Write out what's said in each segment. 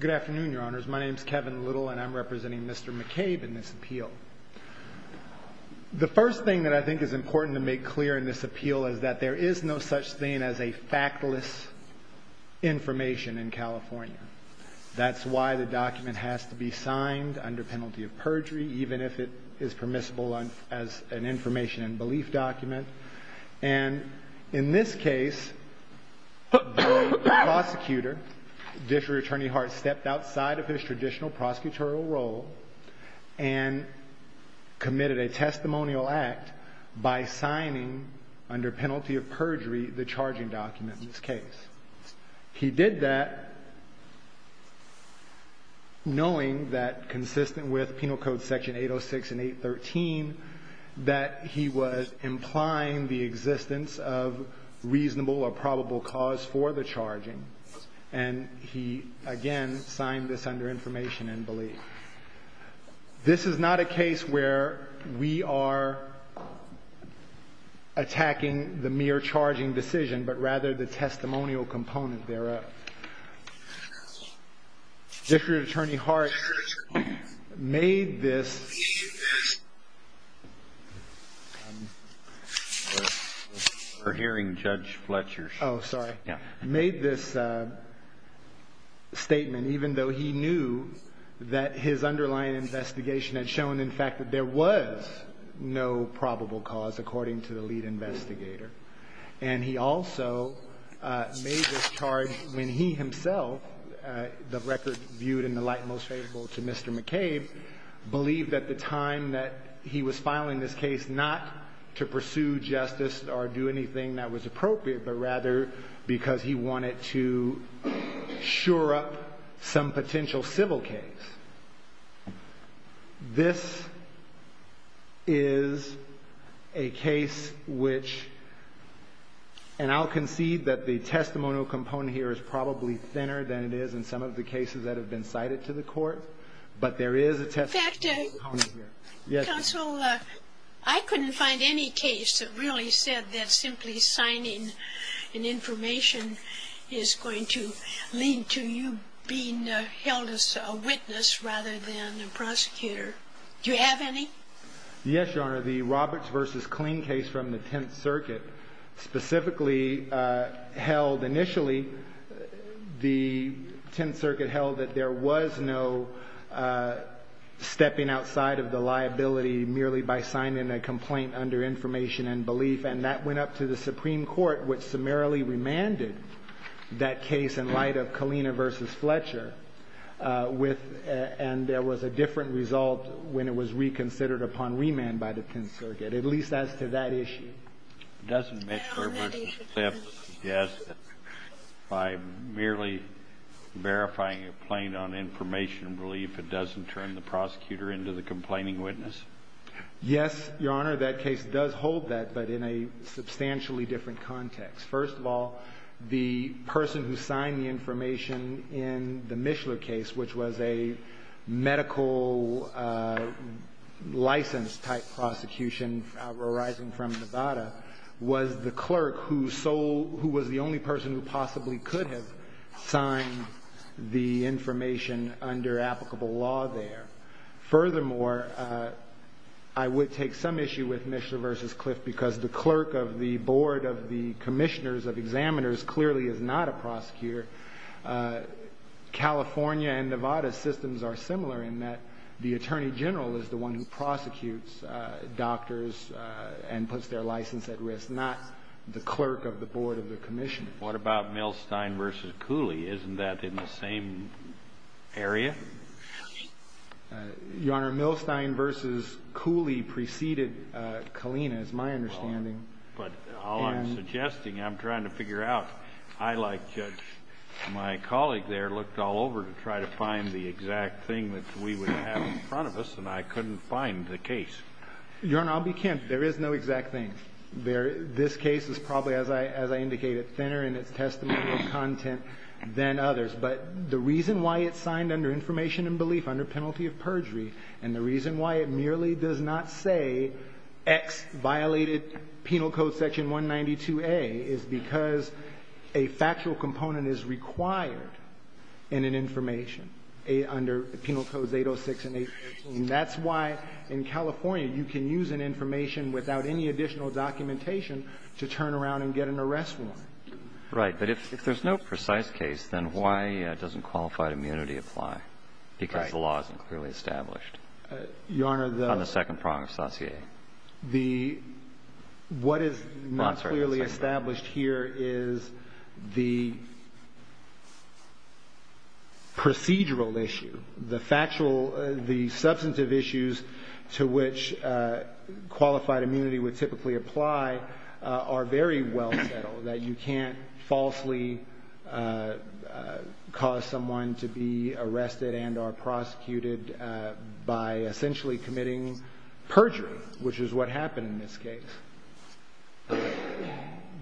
Good afternoon, Your Honors. My name is Kevin Little, and I'm representing Mr. McCabe in this appeal. The first thing that I think is important to make clear in this appeal is that there is no such thing as a factless information in California. That's why the document has to be signed under penalty of perjury, even if it is permissible as an information and belief document. And in this case, the prosecutor, District Attorney Hart, stepped outside of his traditional prosecutorial role and committed a testimonial act by signing under penalty of perjury the charging document in this case. He did that knowing that, consistent with penal code section 806 and 813, that he was implying the existence of reasonable or probable cause for the charging. And he, again, signed this under information and belief. This is not a case where we are attacking the mere charging decision, but rather the fact that he made this statement, even though he knew that his underlying investigation had shown, in fact, that there was no probable cause, according to the lead investigator. And he also made this charge when he himself, the record viewed in the light most favorable to Mr. McCabe, believed at the time that he was filing this case not to pursue justice or do anything that was appropriate, but rather because he wanted to sure up some potential civil case. This is a case which, and I'll concede that the testimonial component here is probably thinner than it is in some of the cases that have been cited to the Court, but there is a testimonial component here. Yes. Counsel, I couldn't find any case that really said that simply signing an information is going to lead to you being held as a witness rather than a prosecutor. Do you have any? Yes, Your Honor. The Roberts v. Killeen case from the Tenth Circuit specifically held initially, the Tenth Circuit held that there was no stepping outside of the liability merely by signing a complaint under information and belief, and that went up to the Supreme Court, which summarily remanded that case in light of Killeen v. Fletcher, and there was a different result when it was reconsidered upon remand by the Tenth Circuit, at least as to that issue. Doesn't Mishler v. Clift suggest that by merely verifying a complaint on information and belief, it doesn't turn the prosecutor into the complaining witness? Yes, Your Honor. That case does hold that, but in a substantially different context. First of all, the person who signed the information in the Mishler case, which was a medical license-type prosecution arising from Nevada, was the clerk who was the only person who possibly could have signed the information under applicable law there. Furthermore, I would take some issue with Mishler v. Clift because the clerk of the board of the commissioners of examiners clearly is not a prosecutor. California and Nevada's systems are similar in that the attorney general is the one who prosecutes doctors and puts their license at risk, not the clerk of the board of the commissioners. What about Milstein v. Cooley? Isn't that in the same area? Your Honor, Milstein v. Cooley preceded Killeen, is my understanding. But all I'm suggesting, I'm trying to figure out. I, like my colleague there, looked all over to try to find the exact thing that we would have in front of us, and I couldn't find the case. Your Honor, I'll be kind. There is no exact thing. This case is probably, as I indicated, thinner in its testimonial content than others. But the reason why it's signed under information and belief under penalty of perjury and the reason why it merely does not say X violated Penal Code section 192a is because a factual component is required in an information under Penal Codes 806 and 813. That's why in California you can use an information without any additional documentation to turn around and get an arrest warrant. Right. But if there's no precise case, then why doesn't qualified immunity apply? Because the law isn't clearly established on the second prong of Saussure. The, what is not clearly established here is the procedural issue. The factual, the substantive issues to which qualified immunity would typically apply are very well settled. That you can't falsely cause someone to be arrested and are prosecuted by essentially committing perjury, which is what happened in this case.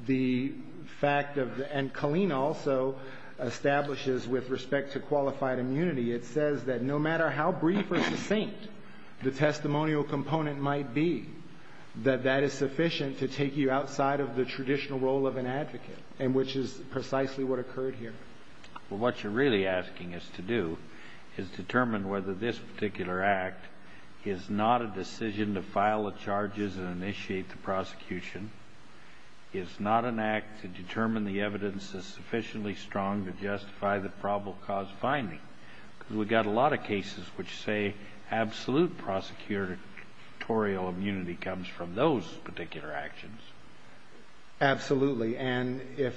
The fact of, and Colleen also establishes with respect to qualified immunity, it says that no matter how brief or succinct the testimonial component might be, that that is sufficient to take you outside of the traditional role of an advocate. And which is precisely what occurred here. Well, what you're really asking us to do is determine whether this particular act is not a decision to file the charges and initiate the prosecution. It's not an act to determine the evidence is sufficiently strong to justify the probable cause finding, because we've got a lot of cases which say absolute prosecutorial immunity comes from those particular actions. Absolutely. And if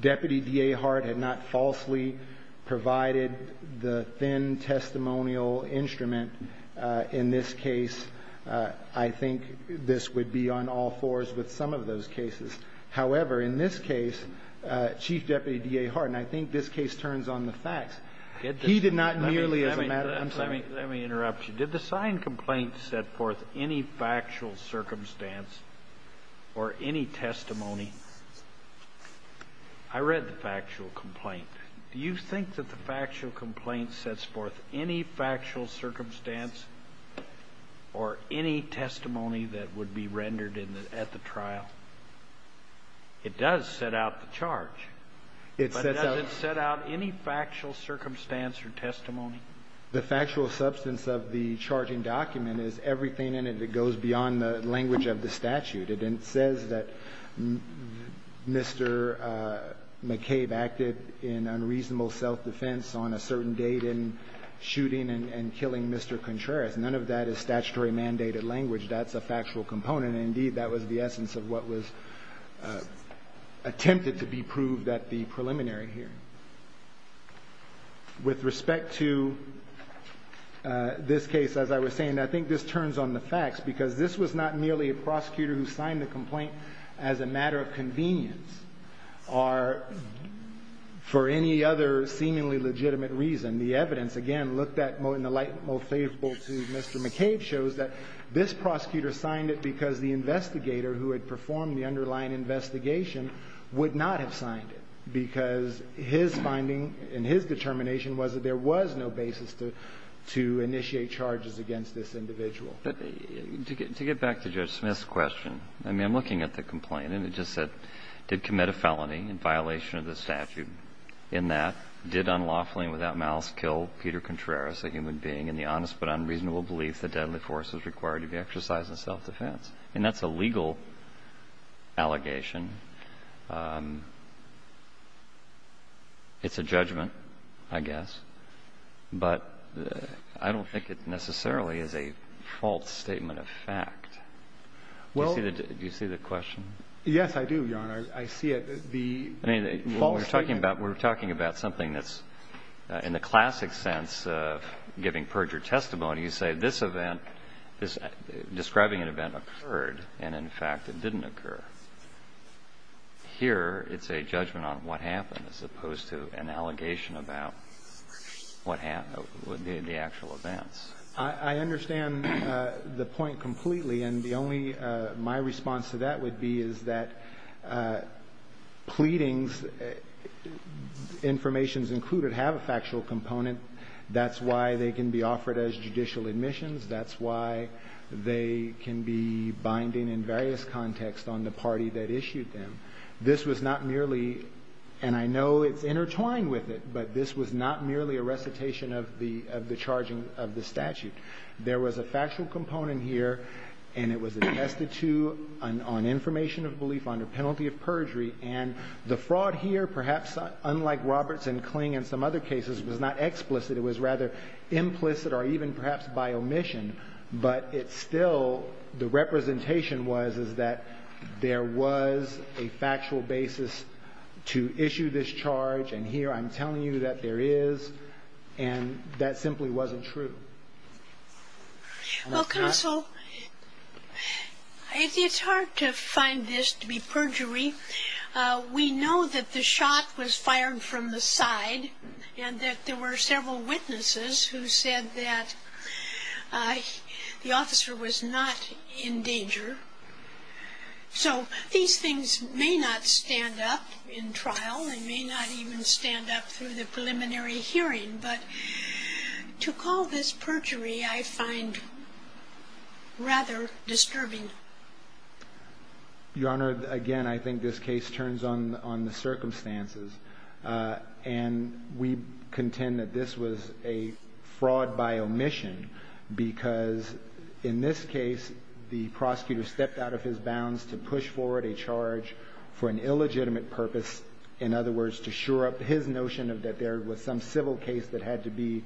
Deputy D.A. Hart had not falsely provided the thin testimonial instrument in this case, I think this would be on all fours with some of those cases. However, in this case, Chief Deputy D.A. Hart, and I think this case turns on the facts. He did not merely as a matter of, I'm sorry. Let me interrupt you. Did the signed complaint set forth any factual circumstance or any testimony? I read the factual complaint. Do you think that the factual complaint sets forth any factual circumstance or any testimony that would be rendered at the trial? It does set out the charge. It sets out- But does it set out any factual circumstance or testimony? The factual substance of the charging document is everything in it that goes beyond the language of the statute. It says that Mr. McCabe acted in unreasonable self-defense on a certain date in shooting and killing Mr. Contreras. None of that is statutory mandated language. That's a factual component. And indeed, that was the essence of what was attempted to be proved at the preliminary hearing. With respect to this case, as I was saying, I think this turns on the facts. Because this was not merely a prosecutor who signed the complaint as a matter of convenience or for any other seemingly legitimate reason. The evidence, again, looked at in the light most favorable to Mr. McCabe, shows that this prosecutor signed it because the investigator who had performed the underlying investigation would not have signed it. Because his finding and his determination was that there was no basis to initiate charges against this individual. But to get back to Judge Smith's question, I mean, I'm looking at the complaint and it just said, did commit a felony in violation of the statute. In that, did unlawfully and without malice kill Peter Contreras, a human being, in the honest but unreasonable belief that deadly force was required to be exercised in self-defense. And that's a legal allegation. It's a judgment, I guess. But I don't think it necessarily is a false statement of fact. Do you see the question? Yes, I do, Your Honor. I see it. The false statement. I mean, we're talking about something that's, in the classic sense of giving perjured testimony, you say this event, describing an event occurred, and in fact, it didn't occur. Here, it's a judgment on what happened as opposed to an allegation about what happened, the actual events. I understand the point completely, and the only, my response to that would be is that pleadings, information's included, have a factual component. That's why they can be offered as judicial admissions. That's why they can be binding in various contexts on the party that issued them. This was not merely, and I know it's intertwined with it, but this was not merely a recitation of the charging of the statute. There was a factual component here, and it was attested to on information of belief under penalty of perjury, and the fraud here, perhaps unlike Roberts and Kling and some other cases, was not explicit. It was rather implicit or even perhaps by omission, but it still, the representation was, is that there was a factual basis to issue this charge, and here I'm telling you that there is, and that simply wasn't true. And that's that. Well, counsel, it's hard to find this to be perjury. We know that the shot was fired from the side, and that there were several witnesses who said that the officer was not in danger. So these things may not stand up in trial, they may not even stand up through the preliminary hearing, but to call this perjury I find rather disturbing. Your Honor, again, I think this case turns on the circumstances, and we contend that this was a fraud by omission, because in this case the prosecutor stepped out of his bounds to push forward a charge for an illegitimate purpose, in other words, to sure up his notion that there was some civil case that had to be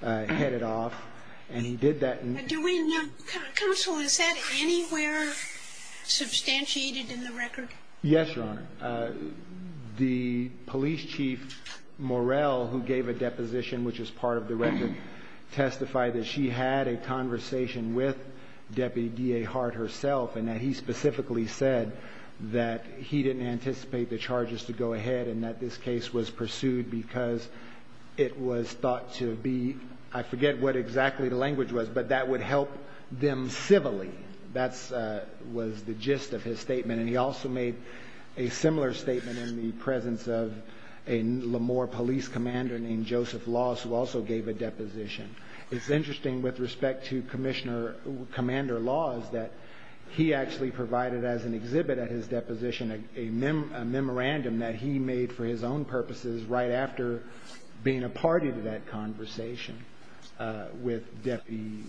headed off, and he did that. Do we know, counsel, is that anywhere substantiated in the record? Yes, Your Honor. The police chief, Morell, who gave a deposition, which is part of the record, testified that she had a conversation with Deputy D.A. Hart herself, and that he specifically said that he didn't anticipate the charges to go ahead, and that this case was pursued because it was thought to be, I forget what exactly the language was, but that would help them civilly. That was the gist of his statement, and he also made a similar statement in the presence of a Lamore police commander named Joseph Laws, who also gave a deposition. It's interesting with respect to Commander Laws that he actually provided as an exhibit at his deposition a memorandum that he made for his own purposes right after being a party to that conversation with Deputy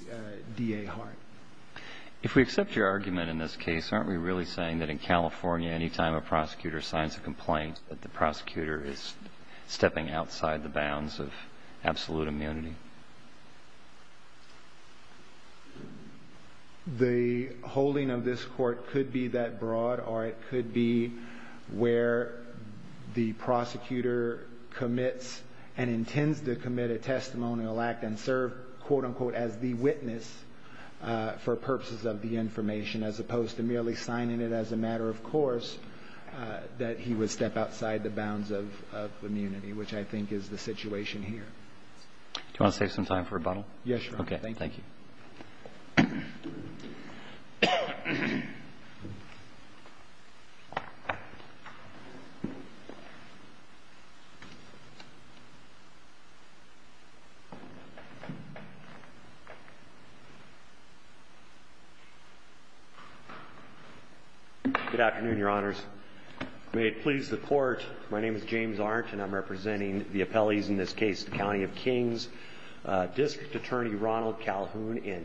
D.A. Hart. If we accept your argument in this case, aren't we really saying that in California any time a prosecutor signs a complaint that the prosecutor is stepping outside the bounds of absolute immunity? The holding of this court could be that broad, or it could be where the prosecutor commits and intends to commit a testimonial act and serve, quote, unquote, as the witness for purposes of the information, as opposed to merely signing it as a matter of course that he would step outside the bounds of immunity, which I think is the situation here. Do you want to save some time for rebuttal? Yes, Your Honor. Okay. Thank you. Good afternoon, Your Honors. May it please the Court, my name is James Arndt, and I'm representing the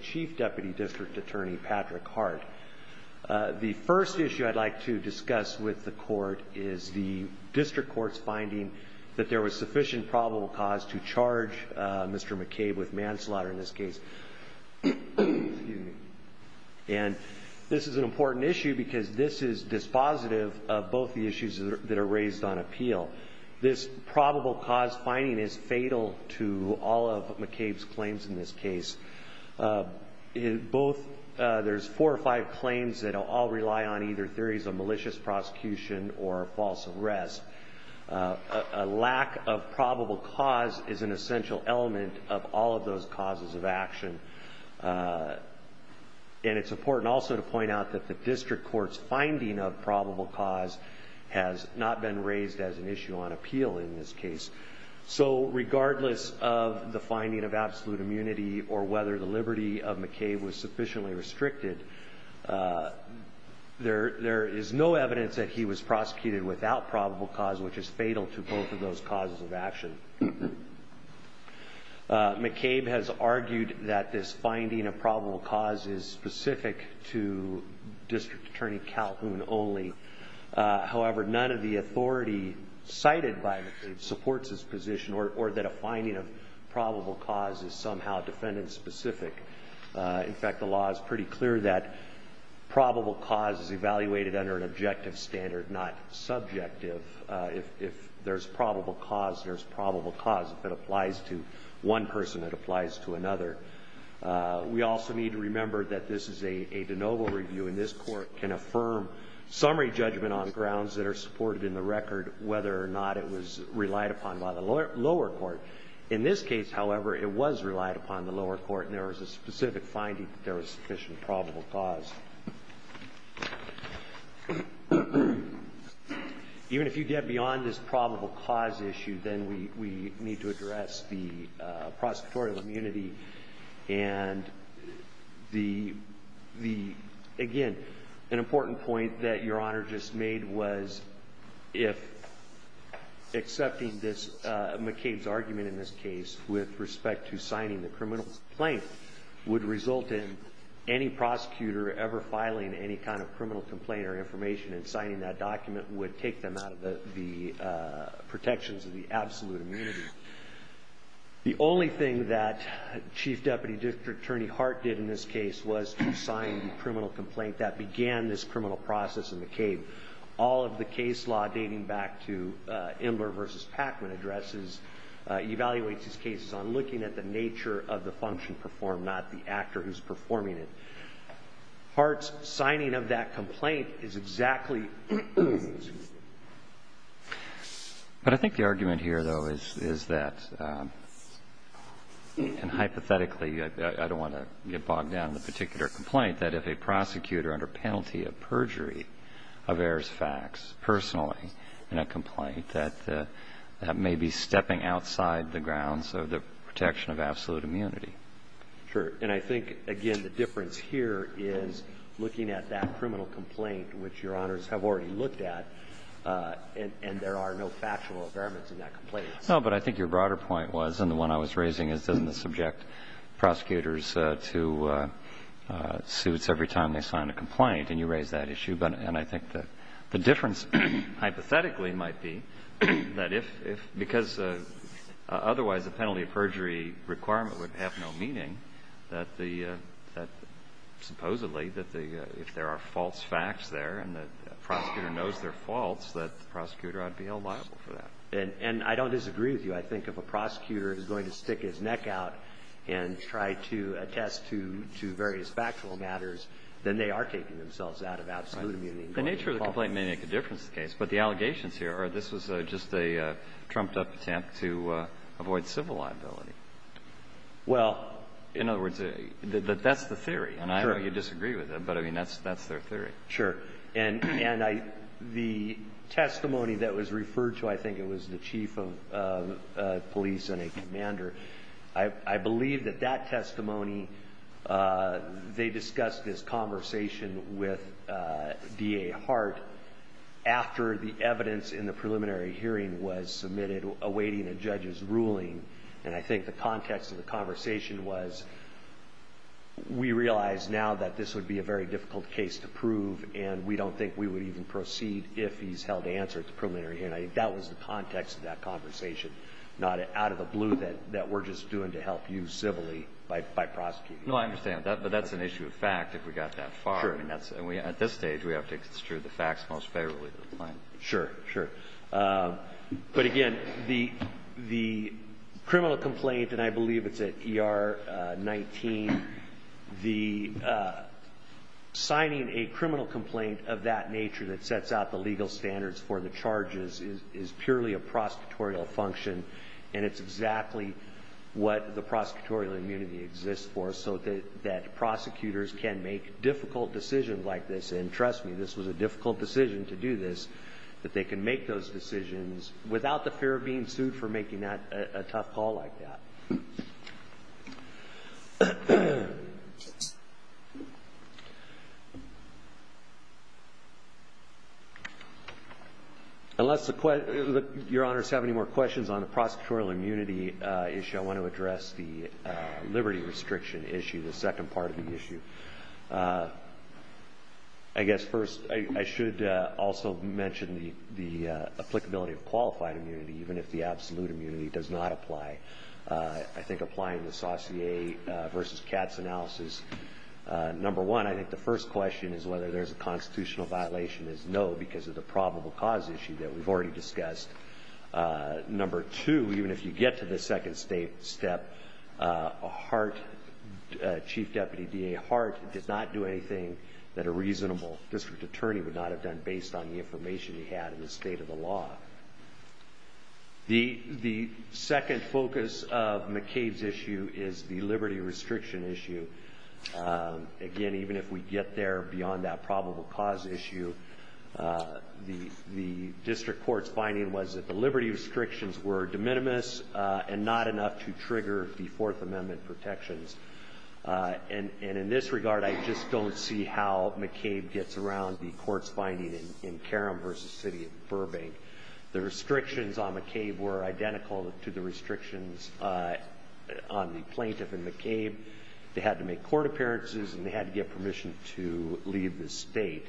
Chief Deputy District Attorney Patrick Hart. The first issue I'd like to discuss with the Court is the district court's finding that there was sufficient probable cause to charge Mr. McCabe with manslaughter in this case. And this is an important issue because this is dispositive of both the issues that are raised on appeal. This probable cause finding is fatal to all of McCabe's claims in this case. Both, there's four or five claims that all rely on either theories of malicious prosecution or false arrest. A lack of probable cause is an essential element of all of those causes of action. And it's important also to point out that the district court's finding of probable cause has not been raised as an issue on appeal in this case. So regardless of the finding of absolute immunity or whether the liberty of McCabe was sufficiently restricted, there is no evidence that he was prosecuted without probable cause, which is fatal to both of those causes of action. McCabe has argued that this finding of probable cause is specific to District Court. However, none of the authority cited by McCabe supports his position or that a finding of probable cause is somehow defendant-specific. In fact, the law is pretty clear that probable cause is evaluated under an objective standard, not subjective. If there's probable cause, there's probable cause. If it applies to one person, it applies to another. We also need to remember that this is a de novo review, and this Court can supported in the record whether or not it was relied upon by the lower court. In this case, however, it was relied upon by the lower court, and there was a specific finding that there was sufficient probable cause. Even if you get beyond this probable cause issue, then we need to address the prosecutorial immunity. And, again, an important point that Your Honor just made was if accepting McCabe's argument in this case with respect to signing the criminal complaint would result in any prosecutor ever filing any kind of criminal complaint or information and signing that document would take them out of the protections of the absolute immunity. The only thing that Chief Deputy District Attorney Hart did in this case was to sign the criminal complaint that began this criminal process in McCabe. All of the case law dating back to Imler v. Packman addresses, evaluates these cases on looking at the nature of the function performed, not the actor who's performing it. Hart's signing of that complaint is exactly... But I think the argument here, though, is that, and hypothetically, I don't want to get bogged down in the particular complaint, that if a prosecutor under penalty of perjury averts facts personally in a complaint, that that may be stepping outside the grounds of the protection of absolute immunity. Sure. And I think, again, the difference here is looking at that criminal complaint, which Your Honors have already looked at, and there are no factual environments in that complaint. No, but I think your broader point was, and the one I was raising is, doesn't it subject prosecutors to suits every time they sign a complaint? And you raised that issue. And I think that the difference hypothetically might be that if, because otherwise a penalty of perjury requirement would have no meaning, that the, supposedly, that the, if there are false facts there and the prosecutor knows they're false, that the prosecutor ought to be held liable for that. And I don't disagree with you. I think if a prosecutor is going to stick his neck out and try to attest to various factual matters, then they are taking themselves out of absolute immunity. The nature of the complaint may make a difference in the case. But the allegations here are this was just a trumped-up attempt to avoid civil liability. Well... In other words, that's the theory. I know you disagree with it, but, I mean, that's their theory. Sure. And the testimony that was referred to, I think it was the chief of police and a commander, I believe that that testimony, they discussed this conversation with D.A. Hart after the evidence in the preliminary hearing was submitted awaiting a judge's ruling. And I think the context of the conversation was we realize now that this would be a very difficult case to prove, and we don't think we would even proceed if he's held answer at the preliminary hearing. I think that was the context of that conversation, not out of the blue that we're just doing to help you civilly by prosecuting you. No, I understand. But that's an issue of fact, if we got that far. Sure. I mean, that's, at this stage, we have to extrude the facts most favorably to the plaintiff. Sure. Sure. But, again, the criminal complaint, and I believe it's at ER 19, the signing a criminal complaint of that nature that sets out the legal standards for the charges is purely a prosecutorial function, and it's exactly what the prosecutorial immunity exists for, so that prosecutors can make difficult decisions like this. And trust me, this was a difficult decision to do this, but they can make those decisions without the fear of being sued for making a tough call like that. Unless your honors have any more questions on the prosecutorial immunity issue, I want to address the liberty restriction issue, the second part of the issue. I guess, first, I should also mention the applicability of qualified immunity, even if the absolute immunity does not apply. I think applying the Saucier versus Katz analysis, number one, I think the first question is whether there's a constitutional violation is no, because of the probable cause issue that we've already discussed. Number two, even if you get to the second step, a heart, Chief Deputy DA Hart did not do anything that a reasonable district attorney would not have done based on the information he had in the state of the law. The second focus of McCabe's issue is the liberty restriction issue. Again, even if we get there beyond that probable cause issue, the district court's finding was that the liberty restrictions were de minimis and not enough to trigger the Fourth Amendment protections. In this regard, I just don't see how McCabe gets around the court's finding in Karam versus the city of Burbank. The restrictions on McCabe were identical to the restrictions on the plaintiff in McCabe. They had to make court appearances and they had to get permission to leave the state.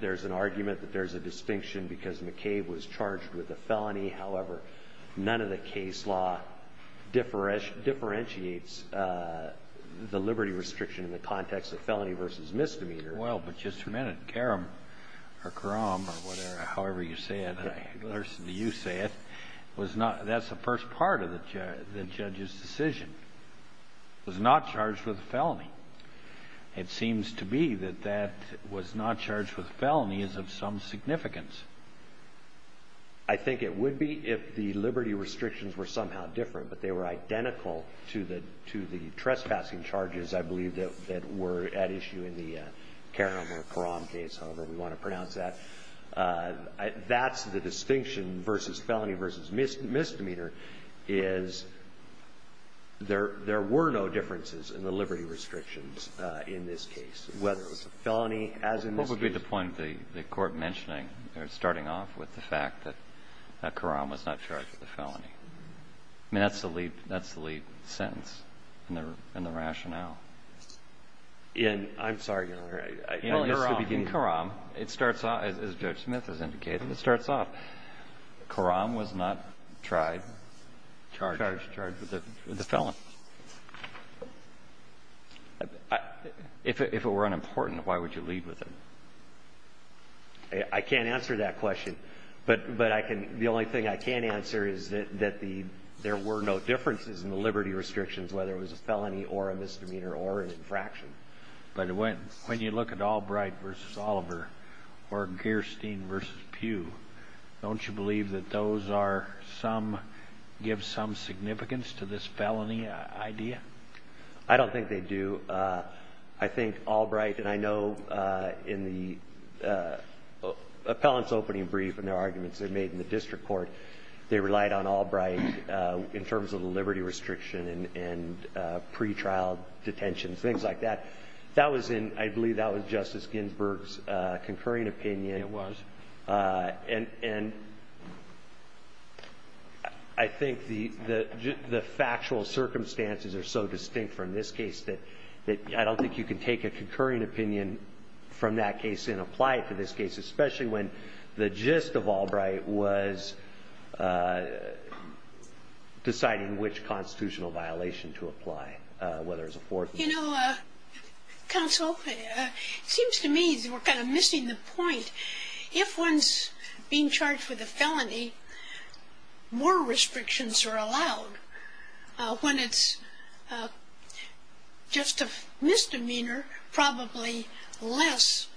There's an argument that there's a distinction because McCabe was charged with a felony. However, none of the case law differentiates the liberty restriction in the context of felony versus misdemeanor. Well, but just a minute. Karam or Karam or whatever, however you say it, I listen to you say it, that's the first part of the judge's decision, was not charged with a felony. It seems to be that that was not charged with a felony is of some significance. I think it would be if the liberty restrictions were somehow different, but they were identical to the trespassing charges, I believe, that were at issue in the Karam or Karam case, however we want to pronounce that. That's the distinction versus felony versus misdemeanor is there were no differences in the liberty restrictions in this case, whether it was a felony as in this case. What would be the point of the Court mentioning or starting off with the fact that Karam was not charged with a felony? I mean, that's the lead sentence in the rationale. In, I'm sorry, Your Honor. In Karam, it starts off, as Judge Smith has indicated, it starts off, Karam was not tried, charged, charged with a felony. If it were unimportant, why would you lead with it? I can't answer that question. But I can, the only thing I can answer is that the, there were no differences in the liberty restrictions, whether it was a felony or a misdemeanor or an infraction. But when you look at Albright v. Oliver or Gerstein v. Pugh, don't you believe that those are some, give some significance to this felony idea? I don't think they do. I think Albright, and I know in the appellant's opening brief and their arguments they made in the District Court, they relied on Albright in terms of the liberty restriction and pretrial detention, things like that. That was in, I believe that was Justice Ginsburg's concurring opinion. It was. And I think the factual circumstances are so distinct from this case that I don't think you can take a concurring opinion from that case and apply it to this case, especially when the gist of Albright was deciding which constitutional violation to apply, whether it was a fourth or fifth. You know, Counsel, it seems to me that we're kind of missing the point. If one's being charged with a felony, more restrictions are allowed. When it's just a misdemeanor, probably less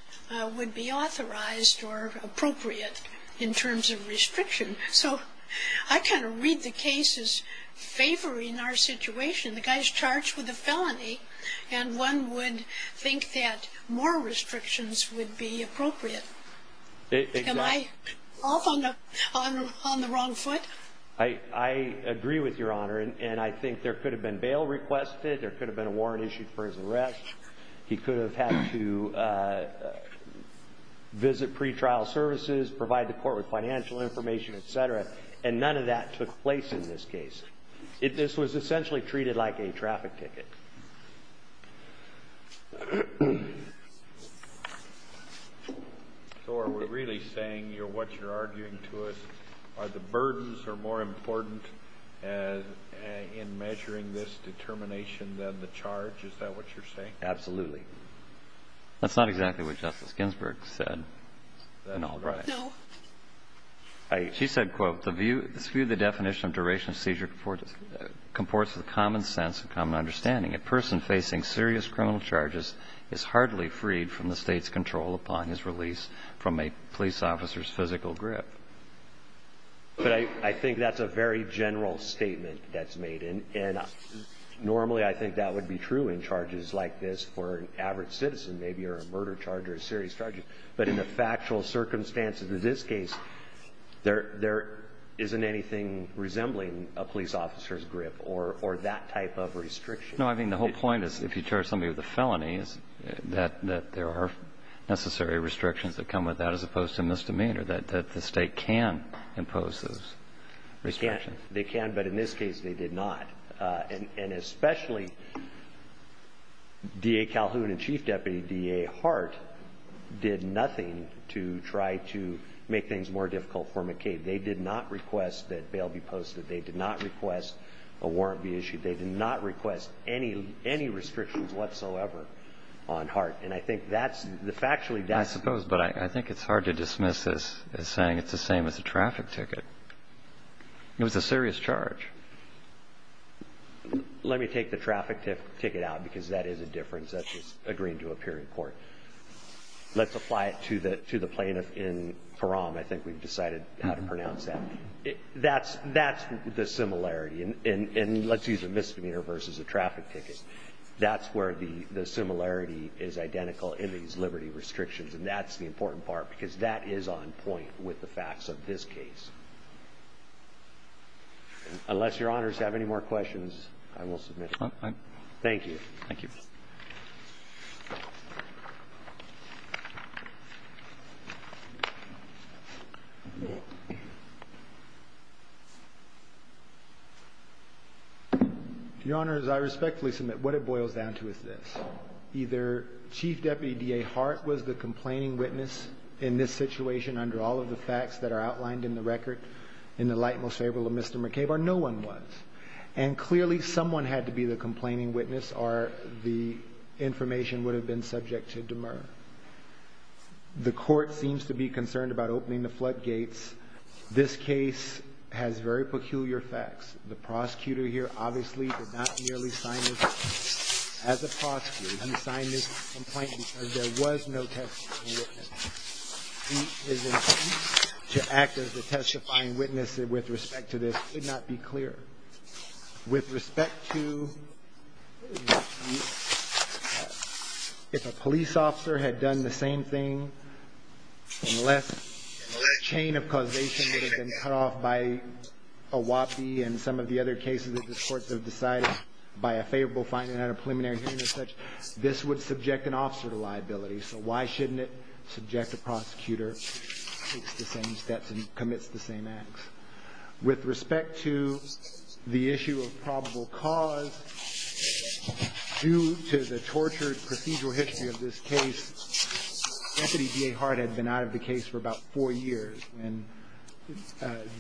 would be authorized or appropriate in terms of restriction. So I kind of read the case as favoring our situation. The guy's charged with a felony, and one would think that more restrictions would be appropriate. Exactly. Am I off on the wrong foot? I agree with Your Honor. And I think there could have been bail requested. There could have been a warrant issued for his arrest. He could have had to visit pretrial services, provide the court with financial information, et cetera, and none of that took place in this case. This was essentially treated like a traffic ticket. So are we really saying what you're arguing to us, are the burdens are more important in measuring this determination than the charge? Is that what you're saying? Absolutely. That's not exactly what Justice Ginsburg said in Albright. No. She said, quote, this view of the definition of duration of seizure comports with common sense and common understanding. A person facing serious criminal charges is hardly freed from the State's control upon his release from a police officer's physical grip. But I think that's a very general statement that's made. And normally I think that would be true in charges like this for an average citizen, maybe, or a murder charge or a serious charge. But in the factual circumstances of this case, there isn't anything resembling a police officer's grip or that type of restriction. No, I mean, the whole point is if you charge somebody with a felony, that there are necessary restrictions that come with that as opposed to misdemeanor, that the State can impose those restrictions. They can, but in this case they did not. And especially D.A. Calhoun and Chief Deputy D.A. Hart did nothing to try to make things more difficult for McCabe. They did not request that bail be posted. They did not request a warrant be issued. They did not request any restrictions whatsoever on Hart. And I think that's the factually that's the case. I suppose, but I think it's hard to dismiss this as saying it's the same as a traffic ticket. It was a serious charge. Let me take the traffic ticket out because that is a difference. That's just agreeing to appear in court. Let's apply it to the plaintiff in Parham. I think we've decided how to pronounce that. That's the similarity. And let's use a misdemeanor versus a traffic ticket. That's where the similarity is identical in these liberty restrictions. And that's the important part because that is on point with the facts of this case. Unless your honors have any more questions, I will submit it. Thank you. Thank you. Your honors, I respectfully submit what it boils down to is this. Either Chief Deputy DA Hart was the complaining witness in this situation under all of the facts that are outlined in the record in the light most favorable of Mr. McCabe or no one was. And clearly someone had to be the complaining witness or the information would have been subject to demur. The court seems to be concerned about opening the floodgates. This case has very peculiar facts. The prosecutor here obviously did not merely sign this as a prosecutor. He signed this complaint because there was no testifying witness. His intent to act as the testifying witness with respect to this could not be clearer. With respect to if a police officer had done the same thing, unless a chain of causation would have been cut off by a WAPI and some of the other cases that the courts have decided by a favorable finding at a preliminary hearing as such, this would subject an officer to liability. So why shouldn't it subject the prosecutor to the same steps and commits the same acts? With respect to the issue of probable cause, due to the tortured procedural history of this case, Deputy DA Hart had been out of the case for about four years. And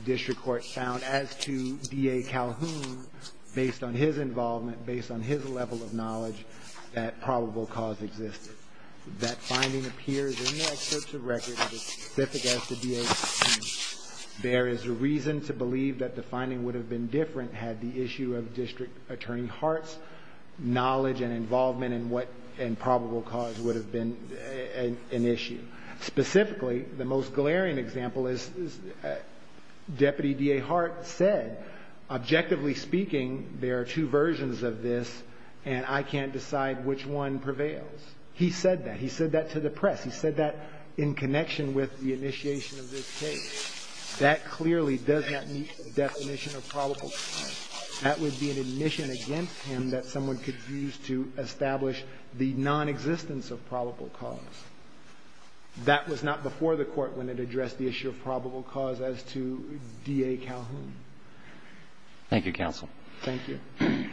district court found as to DA Calhoun, based on his involvement, based on his level of knowledge, that probable cause existed. That finding appears in the excerpts of record as specific as to DA Calhoun. There is a reason to believe that the finding would have been different had the issue of District Attorney Hart's knowledge and involvement in what probable cause would have been an issue. Specifically, the most glaring example is Deputy DA Hart said, objectively speaking, there are two versions of this, and I can't decide which one prevails. He said that. He said that to the press. He said that in connection with the initiation of this case. That clearly does not meet the definition of probable cause. That would be an admission against him that someone could use to establish the nonexistence of probable cause. That was not before the Court when it addressed the issue of probable cause as to DA Calhoun. Thank you, counsel. Thank you. The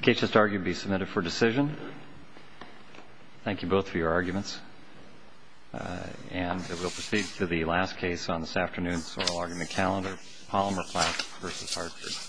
case is to argue to be submitted for decision. Thank you both for your arguments. And we'll proceed to the last case on this afternoon. So I'll argue the calendar, Palmer Platt v. Hartford. Thank you.